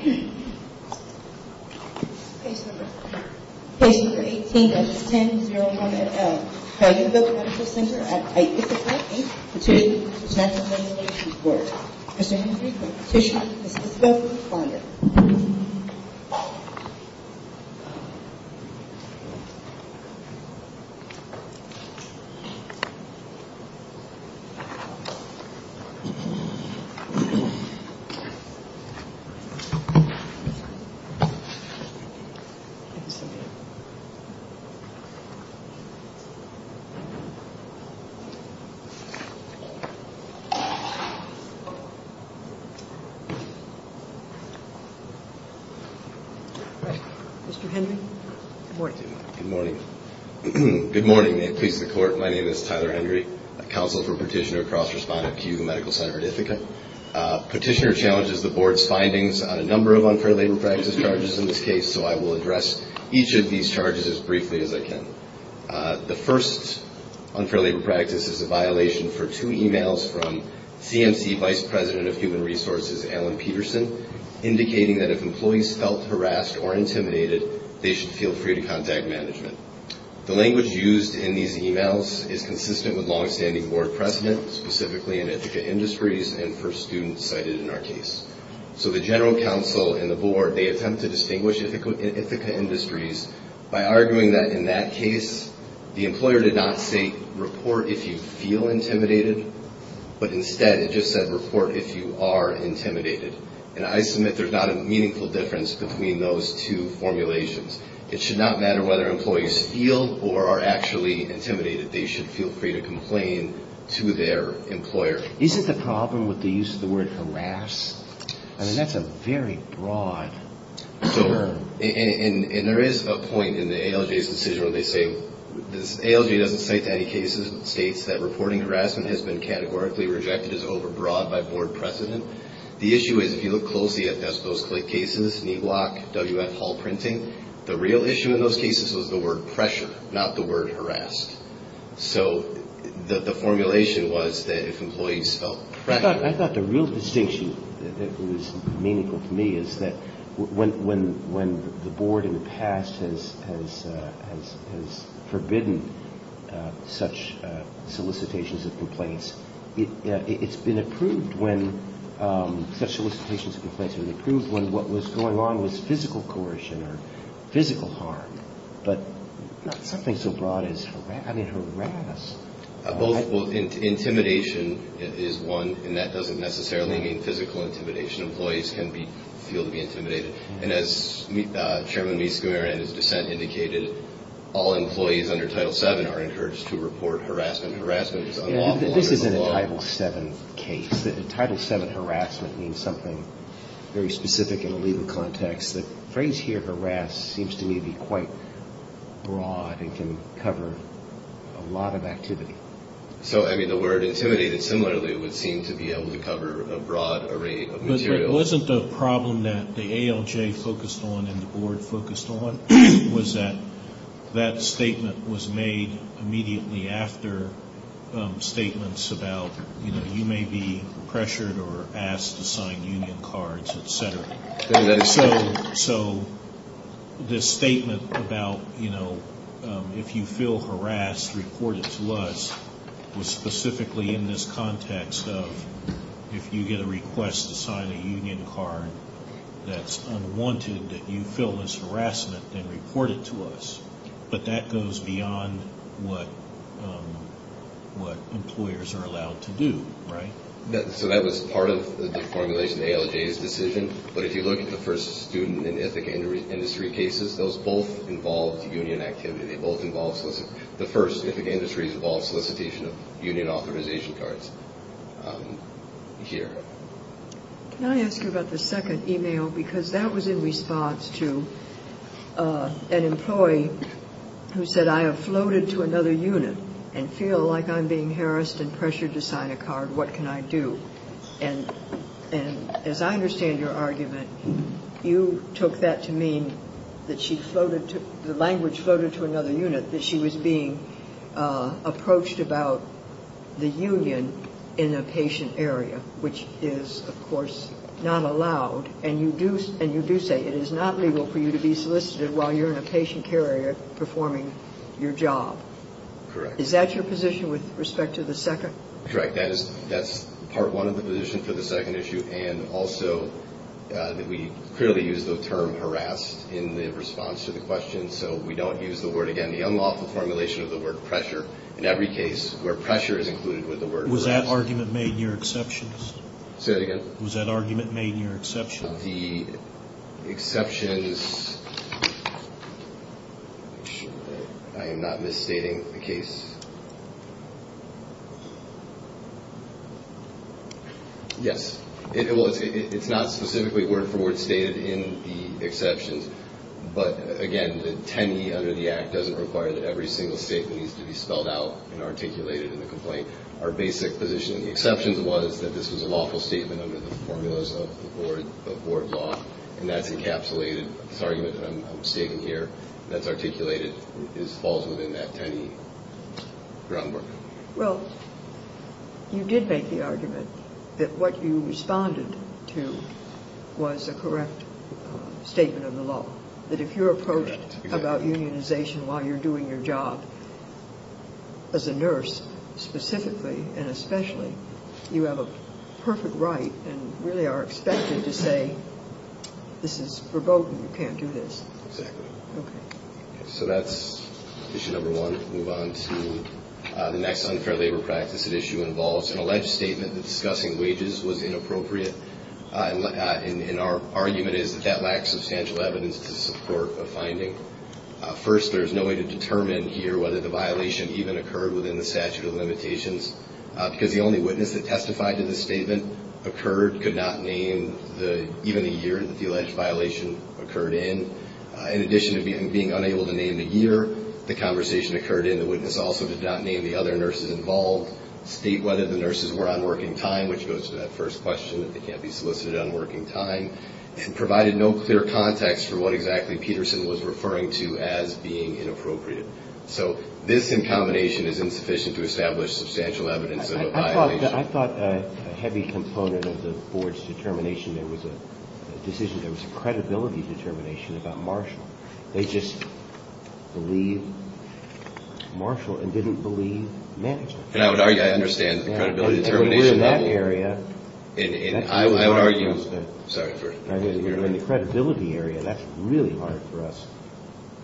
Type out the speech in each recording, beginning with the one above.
Page number 18 of the 10-01-L Calumga Medical Ctr. at Ithaca, Inc. The table of the 10-01-L Calumga Medical Ctr. at Ithaca, Inc. is now in session. Good morning. May it please the Court, my name is Tyler Henry, Counsel for Petitioner-Cross-Respondent at Culuga Medical Ctr. at Ithaca. Petitioner challenges the Board's findings on a number of unfair labor practice charges in this case, so I will address each of these charges as briefly as I can. The first unfair labor practice is a violation for two emails from CMC Vice President of Human Resources, Alan Peterson, indicating that if employees felt harassed or intimidated, they should feel free to contact management. The language used in these emails is consistent with longstanding Board precedent, specifically in Ithaca Industries and for students cited in our case. So the General Counsel and the Board, they attempt to distinguish Ithaca Industries by arguing that in that case, the employer did not say, report if you feel intimidated, but instead it just said, report if you are intimidated. And I submit there's not a meaningful difference between those two formulations. It should not matter whether employees feel or are actually intimidated. They should feel free to complain to their employer. Isn't the problem with the use of the word harass? I mean, that's a very broad term. And there is a point in the ALJ's decision where they say, ALJ doesn't cite any cases that states that reporting harassment has been categorically rejected as overbroad by Board precedent. The issue is if you look closely at those cases, NEWOC, WF Hall printing, the real issue in those cases was the word pressure, not the word harass. So the formulation was that if employees felt pressured. I thought the real distinction that was meaningful to me is that when the Board in the past has forbidden such solicitations of complaints, it's been approved when such solicitations of complaints were approved when what was going on was physical coercion or physical harm, but not something so broad as harass. Intimidation is one, and that doesn't necessarily mean physical intimidation. Employees can feel to be intimidated. And as Chairman Miskimer and his dissent indicated, all employees under Title VII are encouraged to report harassment. Harassment is unlawful under the law. This isn't a Title VII case. Title VII harassment means something very specific in a legal context. The phrase here, harass, seems to me to be quite broad and can cover a lot of activity. So, I mean, the word intimidated similarly would seem to be able to cover a broad array of materials. But wasn't the problem that the ALJ focused on and the Board focused on was that that statement was made immediately after statements about, you know, you may be pressured or asked to sign union cards, et cetera. So this statement about, you know, if you feel harassed, report it to us, was specifically in this context of, if you get a request to sign a union card that's unwanted that you feel is harassment, then report it to us. But that goes beyond what employers are allowed to do, right? So that was part of the formulation of the ALJ's decision. But if you look at the first student and Ithaca industry cases, those both involved union activity. They both involved solicitation. The first, Ithaca Industries, involved solicitation of union authorization cards here. Can I ask you about the second email? Because that was in response to an employee who said, I have floated to another unit and feel like I'm being harassed and pressured to sign a card. What can I do? And as I understand your argument, you took that to mean that she floated to, the language floated to another unit that she was being approached about the union in a patient area, which is, of course, not allowed. And you do say, it is not legal for you to be solicited while you're in a patient care area performing your job. Correct. Is that your position with respect to the second? Correct. That's part one of the position for the second issue. And also, we clearly used the term harassed in the response to the question. So we don't use the word again. The unlawful formulation of the word pressure in every case where pressure is included with the word harass. Was that argument made in your exceptions? Say that again. Was that argument made in your exceptions? The exceptions, I am not misstating the case. Yes. Well, it's not specifically word for word stated in the exceptions. But, again, the 10E under the Act doesn't require that every single statement needs to be spelled out and articulated in the complaint. Our basic position in the exceptions was that this was a lawful statement under the formulas of the board law. And that's encapsulated. This argument that I'm stating here that's articulated falls within that 10E groundwork. Well, you did make the argument that what you responded to was a correct statement of the law. That if you're approached about unionization while you're doing your job as a nurse, specifically and especially, you have a perfect right and really are expected to say, this is verboten, you can't do this. Exactly. Okay. So that's issue number one. Move on to the next unfair labor practice at issue involves an alleged statement that discussing wages was inappropriate. First, there's no way to determine here whether the violation even occurred within the statute of limitations. Because the only witness that testified to the statement occurred, could not name even a year that the alleged violation occurred in. In addition to being unable to name the year the conversation occurred in, the witness also did not name the other nurses involved, state whether the nurses were on working time, which goes to that first question that they can't be solicited on working time, and provided no clear context for what exactly Peterson was referring to as being inappropriate. So this in combination is insufficient to establish substantial evidence of a violation. I thought a heavy component of the board's determination there was a decision, there was a credibility determination about Marshall. They just believed Marshall and didn't believe Mannington. And I would argue I understand the credibility determination. We're in that area. And I would argue. Sorry. We're in the credibility area. That's really hard for us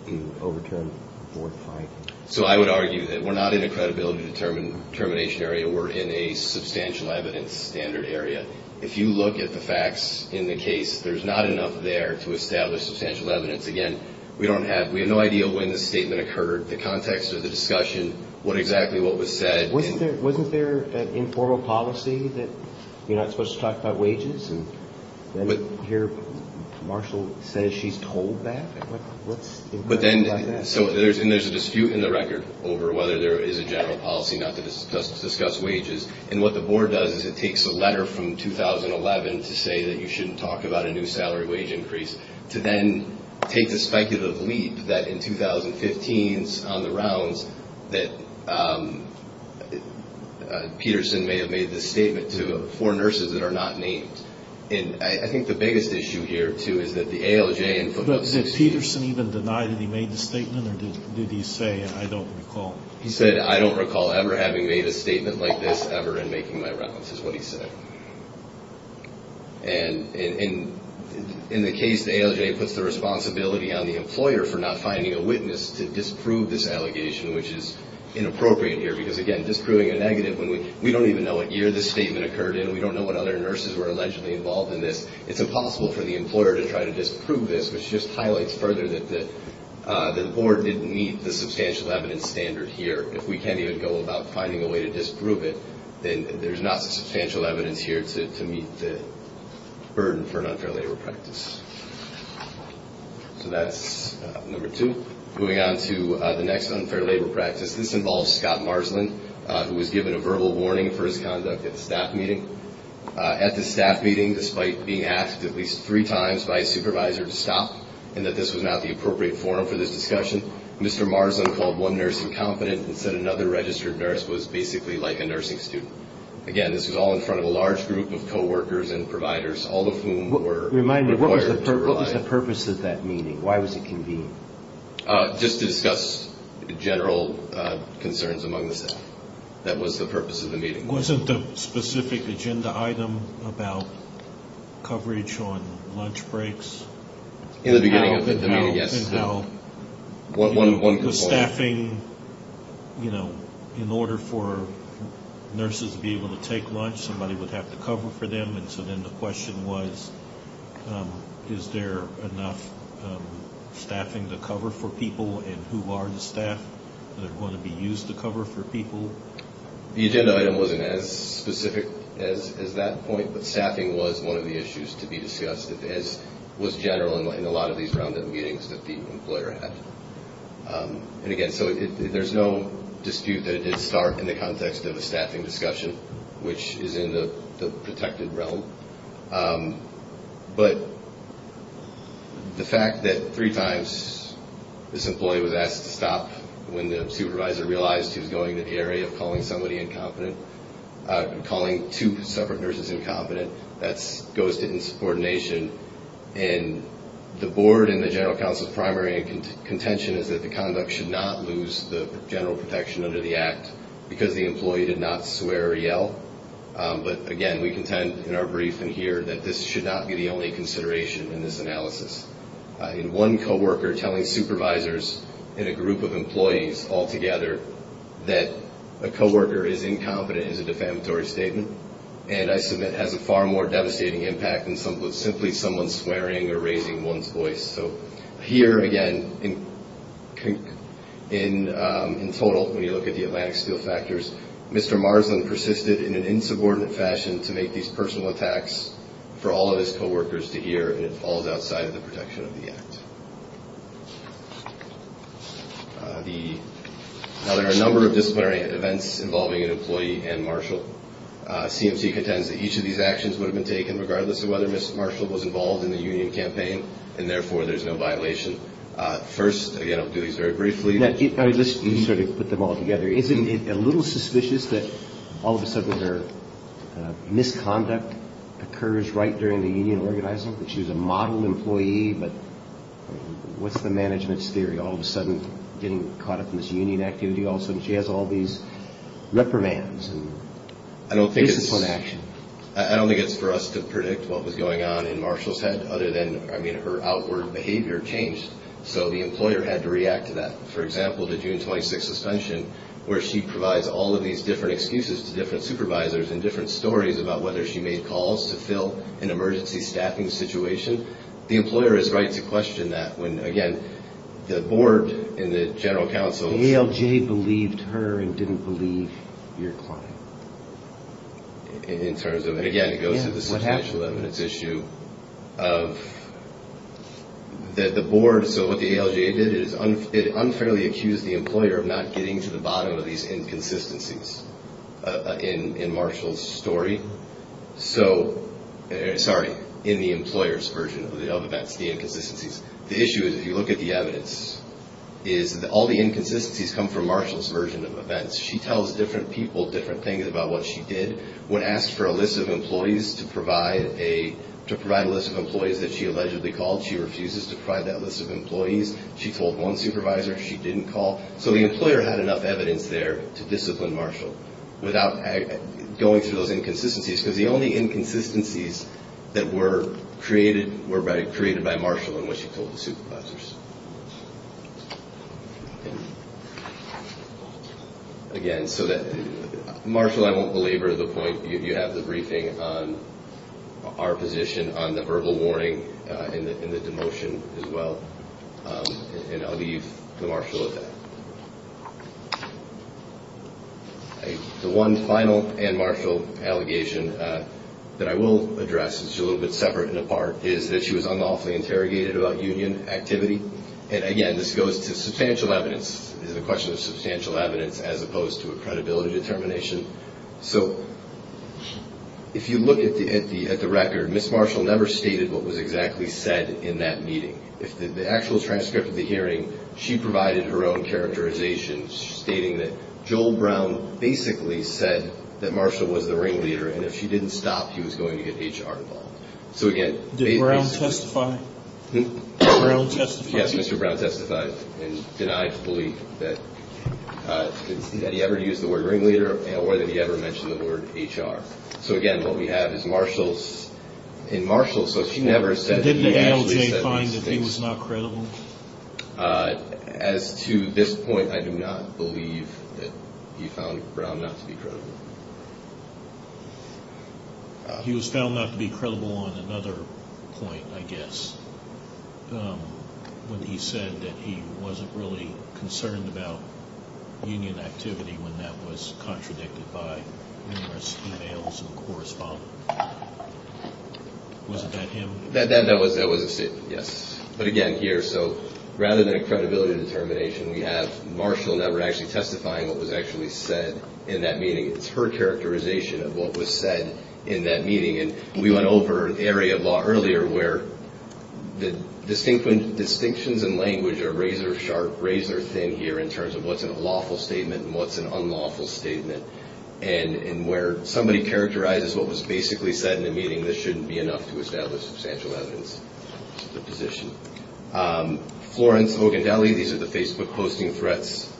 to overturn board findings. So I would argue that we're not in a credibility determination area. We're in a substantial evidence standard area. If you look at the facts in the case, there's not enough there to establish substantial evidence. Again, we don't have, we have no idea when the statement occurred, the context of the discussion, what exactly what was said. Wasn't there an informal policy that you're not supposed to talk about wages? And here Marshall says she's told that? What's implied by that? So there's a dispute in the record over whether there is a general policy not to discuss wages. And what the board does is it takes a letter from 2011 to say that you shouldn't talk about a new salary wage increase to then take the speculative leap that in 2015 on the rounds that Peterson may have made this statement to four nurses that are not named. And I think the biggest issue here, too, is that the ALJ and football. But did Peterson even deny that he made the statement or did he say I don't recall? He said I don't recall ever having made a statement like this ever in making my rounds is what he said. And in the case, the ALJ puts the responsibility on the employer for not finding a witness to disprove this allegation, which is inappropriate here. Because, again, disproving a negative when we don't even know what year the statement occurred in. We don't know what other nurses were allegedly involved in this. It's impossible for the employer to try to disprove this, which just highlights further that the board didn't meet the substantial evidence standard here. If we can't even go about finding a way to disprove it, then there's not substantial evidence here to meet the burden for an unfair labor practice. So that's number two. Moving on to the next unfair labor practice. This involves Scott Marsland, who was given a verbal warning for his conduct at the staff meeting. At the staff meeting, despite being asked at least three times by his supervisor to stop and that this was not the appropriate forum for this discussion, Mr. Marsland called one nurse incompetent and said another registered nurse was basically like a nursing student. Again, this was all in front of a large group of co-workers and providers, all of whom were required to provide. Remind me, what was the purpose of that meeting? Why was it convened? Just to discuss general concerns among the staff. That was the purpose of the meeting. Wasn't the specific agenda item about coverage on lunch breaks? In the beginning of the meeting, yes. Was staffing, you know, in order for nurses to be able to take lunch, somebody would have to cover for them, and so then the question was is there enough staffing to cover for people and who are the staff that are going to be used to cover for people? The agenda item wasn't as specific as that point, but staffing was one of the issues to be discussed. It was general in a lot of these roundup meetings that the employer had. And again, so there's no dispute that it did start in the context of a staffing discussion, which is in the protected realm. But the fact that three times this employee was asked to stop when the supervisor realized he was going to the area of calling somebody incompetent, calling two separate nurses incompetent, that goes to insubordination. And the board in the general counsel's primary contention is that the conduct should not lose the general protection under the act, because the employee did not swear or yell. But again, we contend in our briefing here that this should not be the only consideration in this analysis. One coworker telling supervisors in a group of employees altogether that a coworker is incompetent is a defamatory statement, and I submit has a far more devastating impact than simply someone swearing or raising one's voice. So here, again, in total, when you look at the Atlantic Steel factors, Mr. Marsland persisted in an insubordinate fashion to make these personal attacks for all of his coworkers to hear, and it falls outside of the protection of the act. Now, there are a number of disciplinary events involving an employee and Marshall. CMC contends that each of these actions would have been taken regardless of whether Mr. Marshall was involved in the union campaign, and therefore there's no violation. First, again, I'll do these very briefly. Let me just sort of put them all together. Isn't it a little suspicious that all of a sudden their misconduct occurs right during the union organizing, that she was a model employee, but what's the management's theory? All of a sudden getting caught up in this union activity, all of a sudden she has all these reprimands, and this is fun action. I don't think it's for us to predict what was going on in Marshall's head other than, I mean, her outward behavior changed, so the employer had to react to that. For example, the June 26 suspension, where she provides all of these different excuses to different supervisors and different stories about whether she made calls to fill an emergency staffing situation, the employer has a right to question that when, again, the board and the general counsel. ALJ believed her and didn't believe your client. In terms of, again, it goes to the substantial evidence issue of the board. So what the ALJ did is it unfairly accused the employer of not getting to the bottom of these inconsistencies in Marshall's story. Sorry, in the employer's version of events, the inconsistencies. The issue is, if you look at the evidence, is all the inconsistencies come from Marshall's version of events. She tells different people different things about what she did. When asked for a list of employees to provide a list of employees that she allegedly called, she refuses to provide that list of employees. She told one supervisor she didn't call. So the employer had enough evidence there to discipline Marshall without going through those inconsistencies, because the only inconsistencies that were created were created by Marshall and what she told the supervisors. Again, so that Marshall, I won't belabor the point. You have the briefing on our position on the verbal warning and the demotion as well, and I'll leave the Marshall with that. The one final and Marshall allegation that I will address, which is a little bit separate and apart, is that she was unlawfully interrogated about union activity. And, again, this goes to substantial evidence. This is a question of substantial evidence as opposed to a credibility determination. So if you look at the record, Ms. Marshall never stated what was exactly said in that meeting. The actual transcript of the hearing, she provided her own characterization, stating that Joel Brown basically said that Marshall was the ringleader, and if she didn't stop, he was going to get HR involved. So, again- Did Brown testify? Hm? Did Brown testify? Yes, Mr. Brown testified and denied to believe that he ever used the word ringleader or that he ever mentioned the word HR. So, again, what we have is Marshall's- And Marshall, so she never said that he actually said these things. And didn't ALJ find that he was not credible? As to this point, I do not believe that he found Brown not to be credible. He was found not to be credible on another point, I guess, when he said that he wasn't really concerned about union activity when that was contradicted by numerous emails and correspondence. Wasn't that him? That was a statement, yes. But, again, here, so rather than a credibility determination, we have Marshall never actually testifying what was actually said in that meeting. It's her characterization of what was said in that meeting. And we went over an area of law earlier where the distinctions in language are razor-sharp, razor-thin here in terms of what's a lawful statement and what's an unlawful statement. And where somebody characterizes what was basically said in a meeting, this shouldn't be enough to establish substantial evidence of the position. Florence Ogundeli, these are the Facebook posting threats.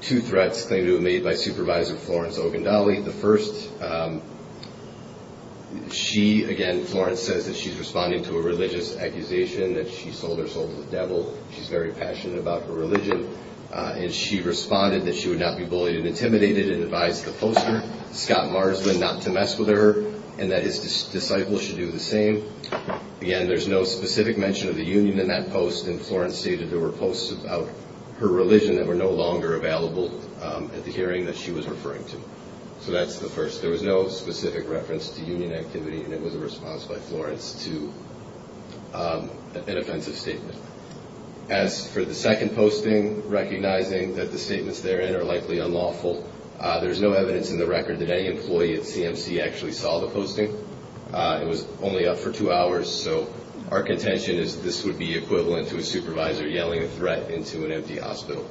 Two threats claimed to have been made by Supervisor Florence Ogundeli. The first, she, again, Florence says that she's responding to a religious accusation that she sold her soul to the devil. She's very passionate about her religion. And she responded that she would not be bullied and intimidated and advised the poster, Scott Marsden, not to mess with her and that his disciples should do the same. Again, there's no specific mention of the union in that post. And Florence stated there were posts about her religion that were no longer available at the hearing that she was referring to. So that's the first. There was no specific reference to union activity, and it was a response by Florence to an offensive statement. As for the second posting, recognizing that the statements therein are likely unlawful, there's no evidence in the record that any employee at CMC actually saw the posting. It was only up for two hours. So our contention is this would be equivalent to a supervisor yelling a threat into an empty hospital.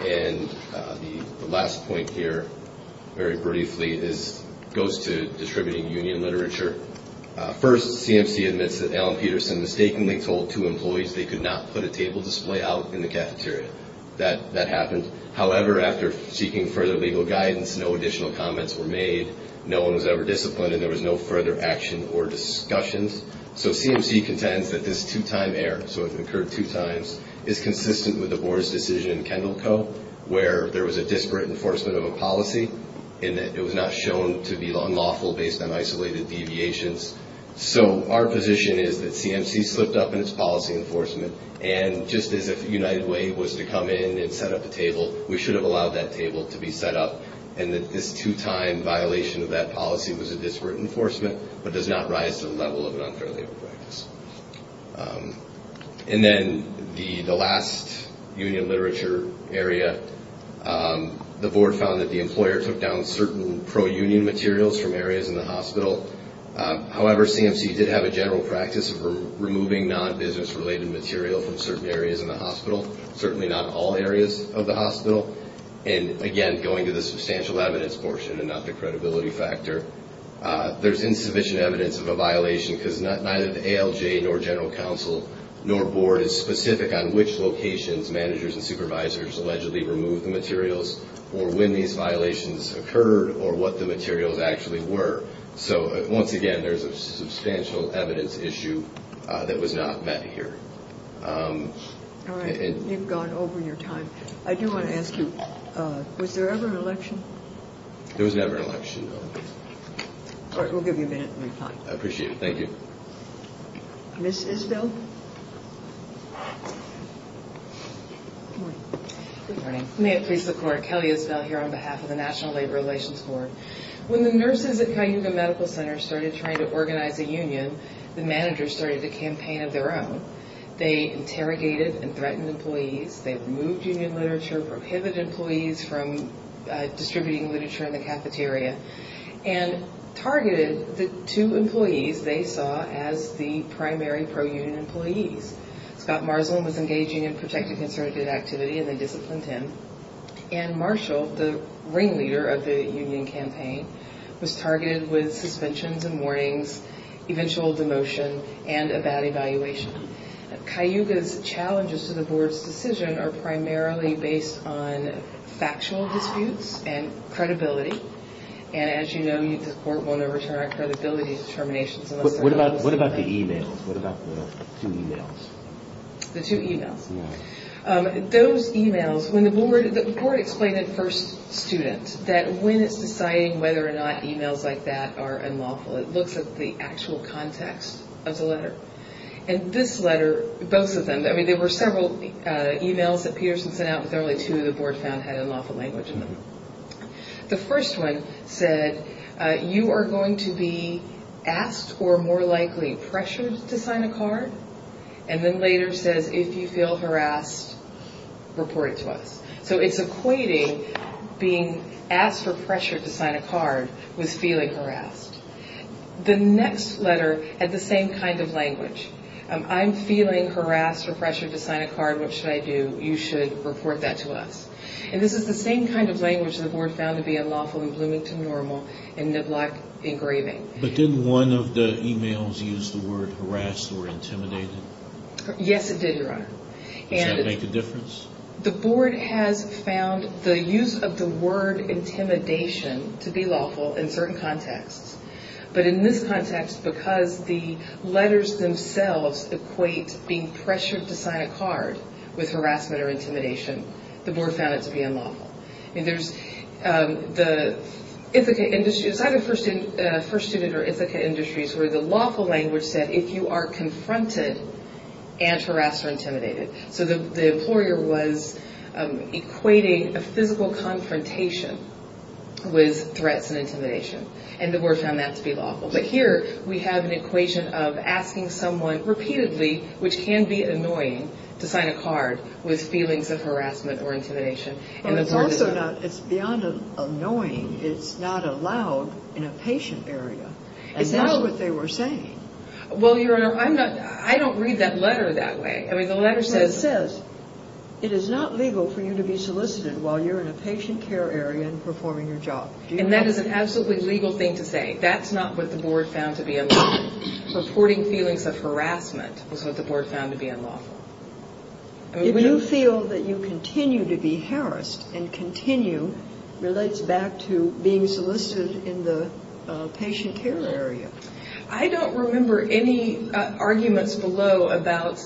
And the last point here, very briefly, goes to distributing union literature. First, CMC admits that Alan Peterson mistakenly told two employees they could not put a table display out in the cafeteria. That happened. However, after seeking further legal guidance, no additional comments were made. No one was ever disciplined, and there was no further action or discussions. So CMC contends that this two-time error, so it occurred two times, is consistent with the board's decision in Kendall Co. where there was a disparate enforcement of a policy in that it was not shown to be unlawful based on isolated deviations. So our position is that CMC slipped up in its policy enforcement, and just as if United Way was to come in and set up a table, we should have allowed that table to be set up, and that this two-time violation of that policy was a disparate enforcement, but does not rise to the level of an unfair labor practice. And then the last union literature area, the board found that the employer took down certain pro-union materials from areas in the hospital. However, CMC did have a general practice of removing non-business-related material from certain areas in the hospital, certainly not all areas of the hospital. And again, going to the substantial evidence portion and not the credibility factor, there's insufficient evidence of a violation because neither the ALJ nor general counsel nor board is specific on which locations managers and supervisors allegedly removed the materials or when these violations occurred or what the materials actually were. So once again, there's a substantial evidence issue that was not met here. All right. You've gone over your time. I do want to ask you, was there ever an election? There was never an election, no. All right. We'll give you a minute to reply. I appreciate it. Thank you. Ms. Isbell? Good morning. May it please the Court, Kelly Isbell here on behalf of the National Labor Relations Board. When the nurses at Cayuga Medical Center started trying to organize a union, the managers started a campaign of their own. They interrogated and threatened employees. They removed union literature, prohibited employees from distributing literature in the cafeteria, and targeted the two employees they saw as the primary pro-union employees. Scott Marsland was engaging in protected conservative activity, and they disciplined him. Anne Marshall, the ringleader of the union campaign, was targeted with suspensions and warnings, eventual demotion, and a bad evaluation. Cayuga's challenges to the Board's decision are primarily based on factual disputes and credibility. And as you know, the Court won't overturn our credibility determinations unless they're close enough. What about the e-mails? What about the two e-mails? The two e-mails? Yes. Those e-mails, when the Board – the Board explained it first student, that when it's deciding whether or not e-mails like that are unlawful, it looks at the actual context of the letter. And this letter, both of them – I mean, there were several e-mails that Peterson sent out, but there were only two the Board found had unlawful language in them. The first one said, you are going to be asked or more likely pressured to sign a card, and then later says, if you feel harassed, report it to us. So it's equating being asked or pressured to sign a card with feeling harassed. The next letter had the same kind of language. I'm feeling harassed or pressured to sign a card. What should I do? You should report that to us. And this is the same kind of language the Board found to be unlawful in Bloomington Normal and Niblack Engraving. But didn't one of the e-mails use the word harassed or intimidated? Yes, it did, Your Honor. Does that make a difference? The Board has found the use of the word intimidation to be lawful in certain contexts. But in this context, because the letters themselves equate being pressured to sign a card with harassment or intimidation, the Board found it to be unlawful. I mean, there's the Ithaca Industries – I had a first student at Ithaca Industries where the lawful language said, if you are confronted and harassed or intimidated. So the employer was equating a physical confrontation with threats and intimidation. And the Board found that to be lawful. But here we have an equation of asking someone repeatedly, which can be annoying, to sign a card with feelings of harassment or intimidation. But it's also not – it's beyond annoying. It's not allowed in a patient area. And that's what they were saying. Well, Your Honor, I don't read that letter that way. I mean, the letter says – It says, it is not legal for you to be solicited while you're in a patient care area and performing your job. And that is an absolutely legal thing to say. That's not what the Board found to be unlawful. Supporting feelings of harassment is what the Board found to be unlawful. If you feel that you continue to be harassed and continue, relates back to being solicited in the patient care area. I don't remember any arguments below about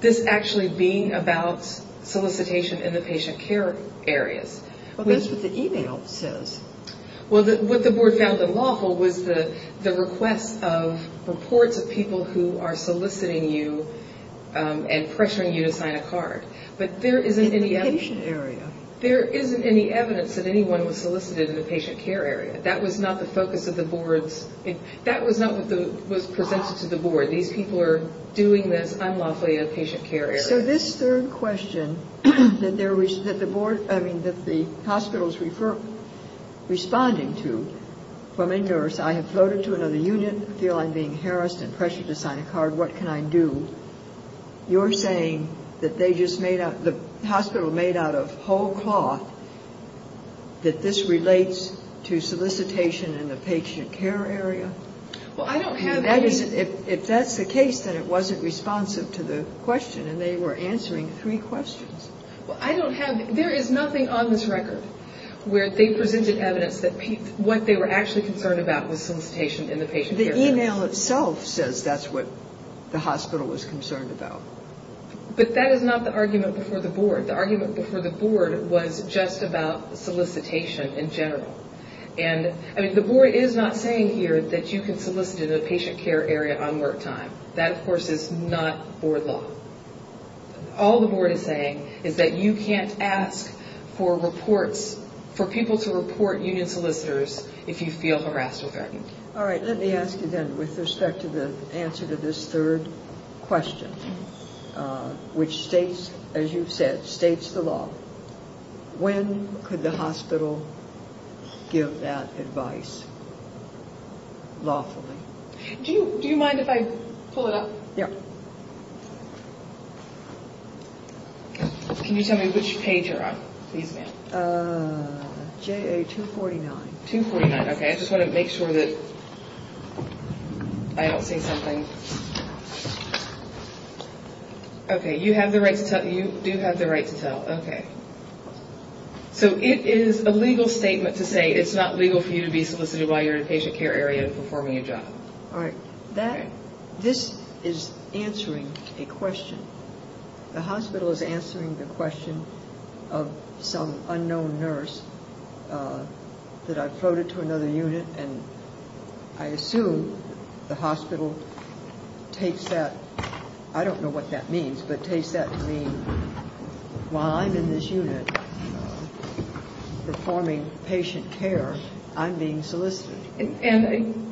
this actually being about solicitation in the patient care areas. Well, that's what the e-mail says. Well, what the Board found unlawful was the request of reports of people who are soliciting you and pressuring you to sign a card. But there isn't any – In the patient area. There isn't any evidence that anyone was solicited in the patient care area. That was not the focus of the Board's – That was not what was presented to the Board. These people are doing this unlawfully in a patient care area. So this third question that the Board – I mean, that the hospital's responding to, from a nurse, I have floated to another unit, feel I'm being harassed and pressured to sign a card. What can I do? You're saying that they just made out – that this relates to solicitation in the patient care area? Well, I don't have any – If that's the case, then it wasn't responsive to the question, and they were answering three questions. Well, I don't have – there is nothing on this record where they presented evidence that what they were actually concerned about was solicitation in the patient care areas. The e-mail itself says that's what the hospital was concerned about. But that is not the argument before the Board. The argument before the Board was just about solicitation in general. And, I mean, the Board is not saying here that you can solicit in a patient care area on work time. That, of course, is not Board law. All the Board is saying is that you can't ask for reports – for people to report union solicitors if you feel harassed or threatened. All right, let me ask you then, with respect to the answer to this third question, which states, as you've said, states the law, when could the hospital give that advice lawfully? Do you mind if I pull it up? Yeah. Can you tell me which page you're on, please, ma'am? JA 249. 249, okay. I just want to make sure that I don't say something. Okay, you have the right to tell. You do have the right to tell. Okay. So it is a legal statement to say it's not legal for you to be solicited while you're in a patient care area All right. This is answering a question. The hospital is answering the question of some unknown nurse that I floated to another unit, and I assume the hospital takes that – I don't know what that means, but takes that to mean while I'm in this unit performing patient care, I'm being solicited. And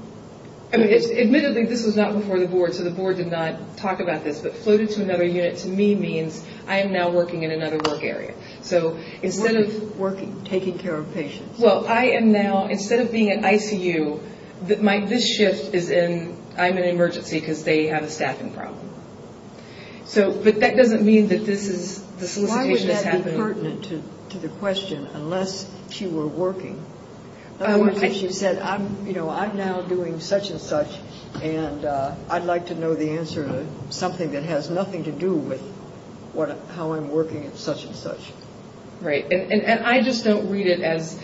admittedly, this was not before the Board, so the Board did not talk about this, but floated to another unit to me means I am now working in another work area. So instead of – Working, taking care of patients. Well, I am now – instead of being in ICU, this shift is in I'm in emergency because they have a staffing problem. But that doesn't mean that this is – the solicitation has happened – Why would that be pertinent to the question unless she were working? She said, you know, I'm now doing such and such, and I'd like to know the answer to something that has nothing to do with how I'm working at such and such. Right. And I just don't read it as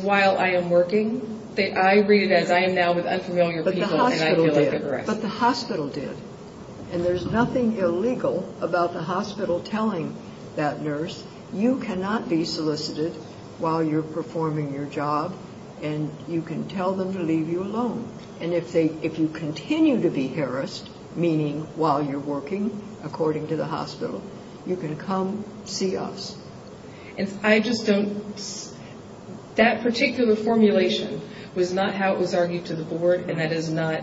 while I am working. I read it as I am now with unfamiliar people, and I feel like I'm pressed. But the hospital did. But the hospital did. And there's nothing illegal about the hospital telling that nurse, you cannot be solicited while you're performing your job, and you can tell them to leave you alone. And if they – if you continue to be harassed, meaning while you're working, according to the hospital, you can come see us. And I just don't – that particular formulation was not how it was argued to the Board, and that is not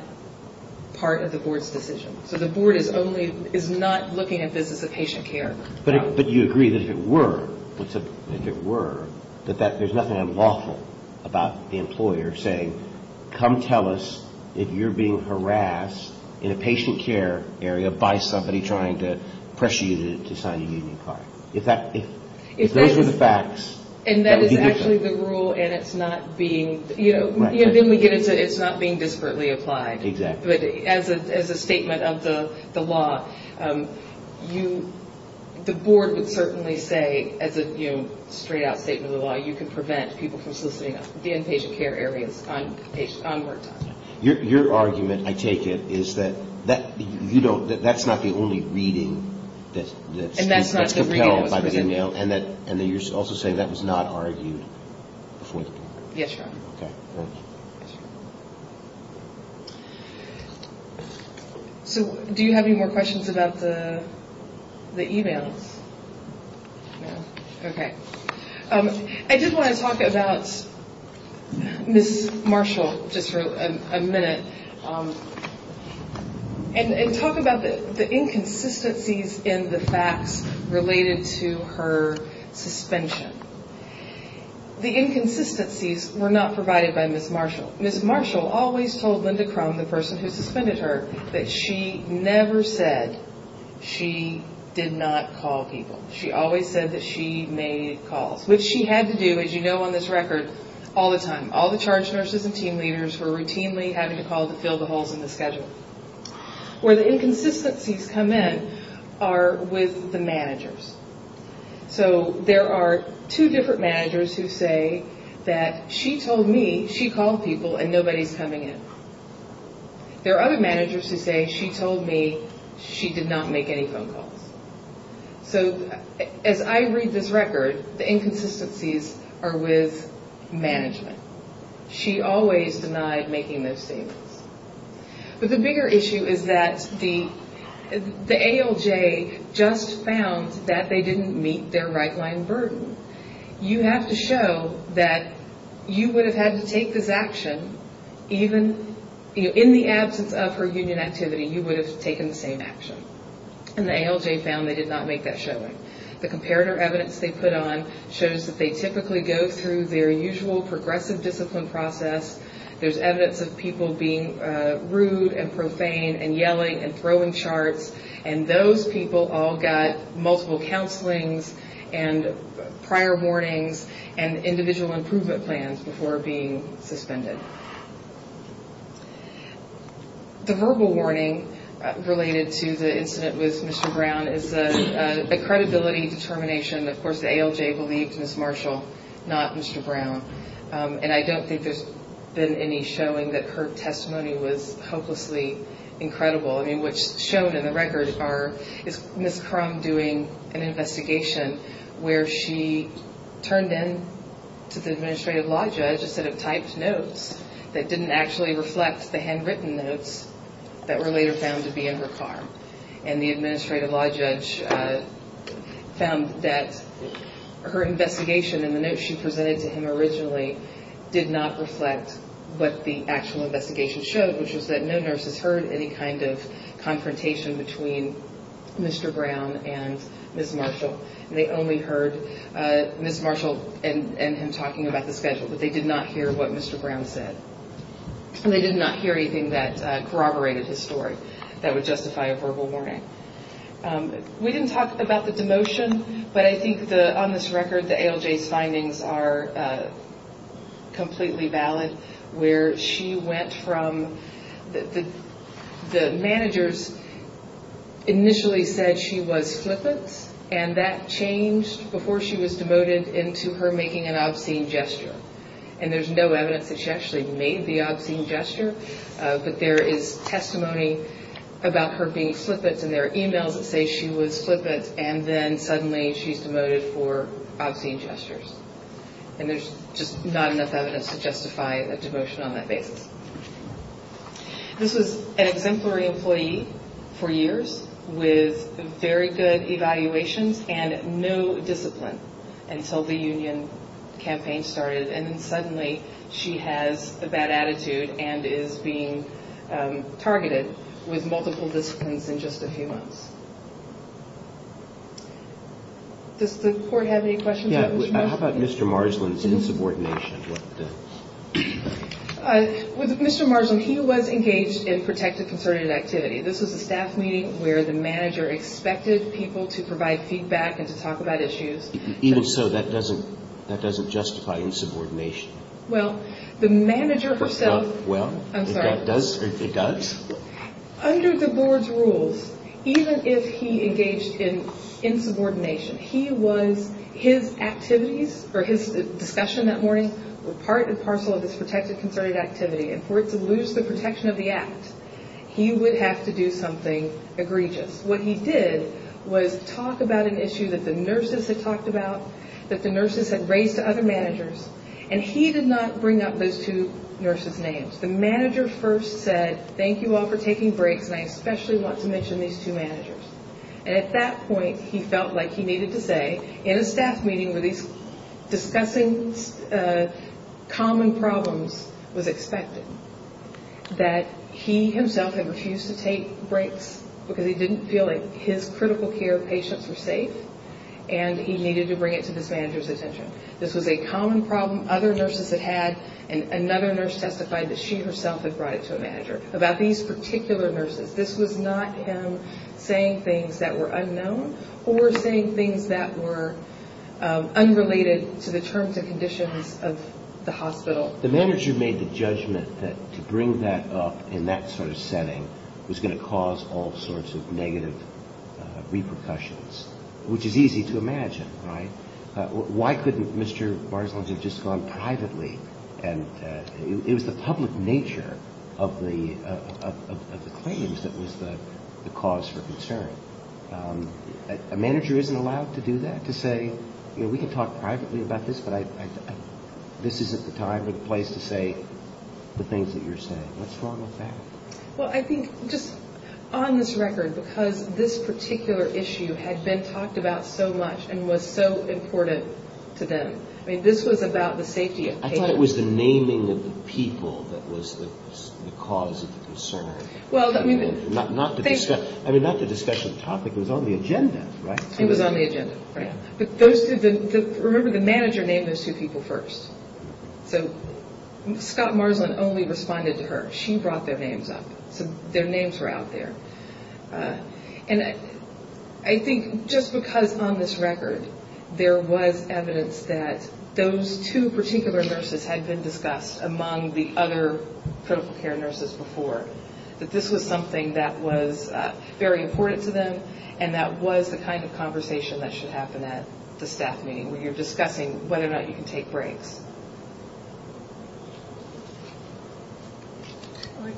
part of the Board's decision. So the Board is only – is not looking at business of patient care. But you agree that if it were – if it were, that there's nothing unlawful about the employer saying, come tell us if you're being harassed in a patient care area by somebody trying to pressure you to sign a union card. If that – if those were the facts, that would be different. And that is actually the rule, and it's not being – you know, then we get into it's not being disparately applied. Exactly. But as a statement of the law, you – the Board would certainly say, as a, you know, straight-out statement of the law, you can prevent people from soliciting the inpatient care areas on work time. Your argument, I take it, is that that – you don't – that that's not the only reading that's compelled by the e-mail. And that you're also saying that was not argued before the Board. Yes, Your Honor. Okay. So do you have any more questions about the e-mails? No. Okay. I did want to talk about Ms. Marshall just for a minute. And talk about the inconsistencies in the facts related to her suspension. The inconsistencies were not provided by Ms. Marshall. Ms. Marshall always told Linda Crum, the person who suspended her, that she never said she did not call people. She always said that she made calls, which she had to do, as you know on this record, all the time. All the charge nurses and team leaders were routinely having to call to fill the holes in the schedule. Where the inconsistencies come in are with the managers. So there are two different managers who say that she told me she called people and nobody's coming in. There are other managers who say she told me she did not make any phone calls. So as I read this record, the inconsistencies are with management. She always denied making those statements. But the bigger issue is that the ALJ just found that they didn't meet their right-line burden. You have to show that you would have had to take this action even in the absence of her union activity. You would have taken the same action. And the ALJ found they did not make that showing. The comparator evidence they put on shows that they typically go through their usual progressive discipline process. There's evidence of people being rude and profane and yelling and throwing charts. And those people all got multiple counselings and prior warnings and individual improvement plans before being suspended. The verbal warning related to the incident with Mr. Brown is a credibility determination. Of course, the ALJ believed Ms. Marshall, not Mr. Brown. And I don't think there's been any showing that her testimony was hopelessly incredible. I mean, what's shown in the record is Ms. Crum doing an investigation where she turned in to the administrative law judge instead of typed notes that didn't actually reflect the handwritten notes that were later found to be in her car. And the administrative law judge found that her investigation and the notes she presented to him originally did not reflect what the actual investigation showed, which was that no nurses heard any kind of confrontation between Mr. Brown and Ms. Marshall. They only heard Ms. Marshall and him talking about the schedule, but they did not hear what Mr. Brown said. They did not hear anything that corroborated his story that would justify a verbal warning. We didn't talk about the demotion, but I think on this record the ALJ's findings are completely valid. Where she went from the managers initially said she was flippant, and that changed before she was demoted into her making an obscene gesture. And there's no evidence that she actually made the obscene gesture, but there is testimony about her being flippant, and there are emails that say she was flippant, and then suddenly she's demoted for obscene gestures. And there's just not enough evidence to justify a demotion on that basis. This was an exemplary employee for years with very good evaluations and no discipline until the union campaign started, and then suddenly she has a bad attitude and is being targeted with multiple disciplines in just a few months. Does the court have any questions about Ms. Marshall? How about Mr. Marjolin's insubordination? With Mr. Marjolin, he was engaged in protected concerted activity. This was a staff meeting where the manager expected people to provide feedback and to talk about issues. Even so, that doesn't justify insubordination. Well, the manager herself – Well, it does? Under the board's rules, even if he engaged in insubordination, his activities or his discussion that morning were part and parcel of this protected concerted activity, and for it to lose the protection of the act, he would have to do something egregious. What he did was talk about an issue that the nurses had talked about, that the nurses had raised to other managers, and he did not bring up those two nurses' names. The manager first said, thank you all for taking breaks, and I especially want to mention these two managers. And at that point, he felt like he needed to say, in a staff meeting where these discussing common problems was expected, that he himself had refused to take breaks because he didn't feel like his critical care patients were safe, and he needed to bring it to this manager's attention. This was a common problem other nurses had had, and another nurse testified that she herself had brought it to a manager, about these particular nurses. This was not him saying things that were unknown or saying things that were unrelated to the terms and conditions of the hospital. The manager made the judgment that to bring that up in that sort of setting was going to cause all sorts of negative repercussions, which is easy to imagine, right? Why couldn't Mr. Barzunz have just gone privately, and it was the public nature of the claims that was the cause for concern. A manager isn't allowed to do that, to say, you know, we can talk privately about this, but this isn't the time or the place to say the things that you're saying. What's wrong with that? Well, I think just on this record, because this particular issue had been talked about so much and was so important to them, I mean, this was about the safety of patients. I thought it was the naming of the people that was the cause of the concern, not the discussion of the topic. It was on the agenda, right? It was on the agenda, right. Remember, the manager named those two people first, so Scott Marzunz only responded to her. She brought their names up, so their names were out there. And I think just because on this record there was evidence that those two particular nurses had been discussed among the other critical care nurses before, that this was something that was very important to them, and that was the kind of conversation that should happen at the staff meeting, when you're discussing whether or not you can take breaks. Okay,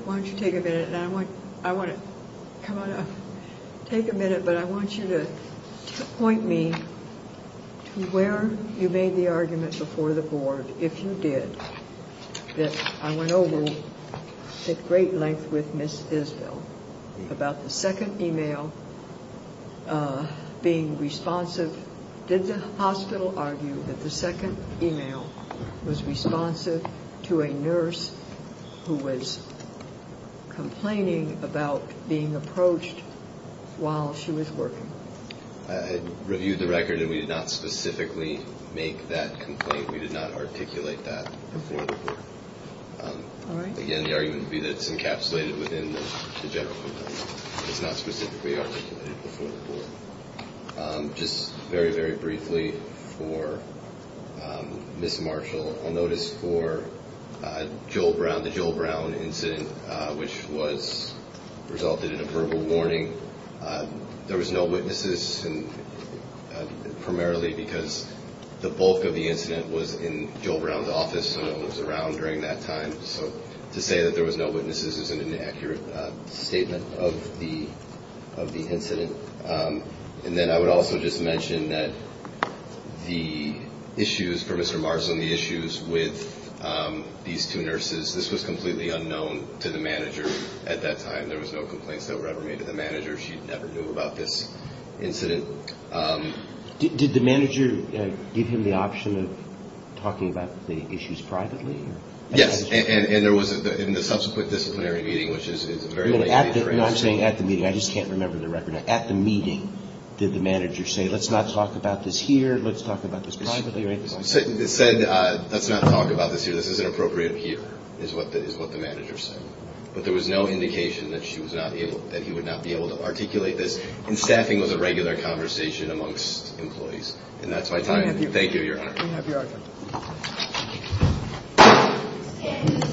why don't you take a minute, and I want to take a minute, but I want you to point me to where you made the argument before the board, if you did, that I went over at great length with Ms. Isbell about the second e-mail being responsive. Did the hospital argue that the second e-mail was responsive to a nurse who was complaining about being approached while she was working? I reviewed the record, and we did not specifically make that complaint. We did not articulate that before the board. Again, the argument would be that it's encapsulated within the general complaint. It's not specifically articulated before the board. Just very, very briefly for Ms. Marshall, I'll notice for Joel Brown, the Joel Brown incident, which resulted in a verbal warning, there was no witnesses, and primarily because the bulk of the incident was in Joel Brown's office, so no one was around during that time. So to say that there was no witnesses is an inaccurate statement of the incident. And then I would also just mention that the issues for Mr. Marshall and the issues with these two nurses, this was completely unknown to the manager at that time. There was no complaints that were ever made to the manager. She never knew about this incident. Did the manager give him the option of talking about the issues privately? Yes, and there was, in the subsequent disciplinary meeting, which is a very late meeting. I'm saying at the meeting. I just can't remember the record. At the meeting, did the manager say, let's not talk about this here, let's talk about this privately? She said, let's not talk about this here, this isn't appropriate here, is what the manager said. But there was no indication that he would not be able to articulate this. And staffing was a regular conversation amongst employees. And that's my time. Thank you, Your Honor. We have your item.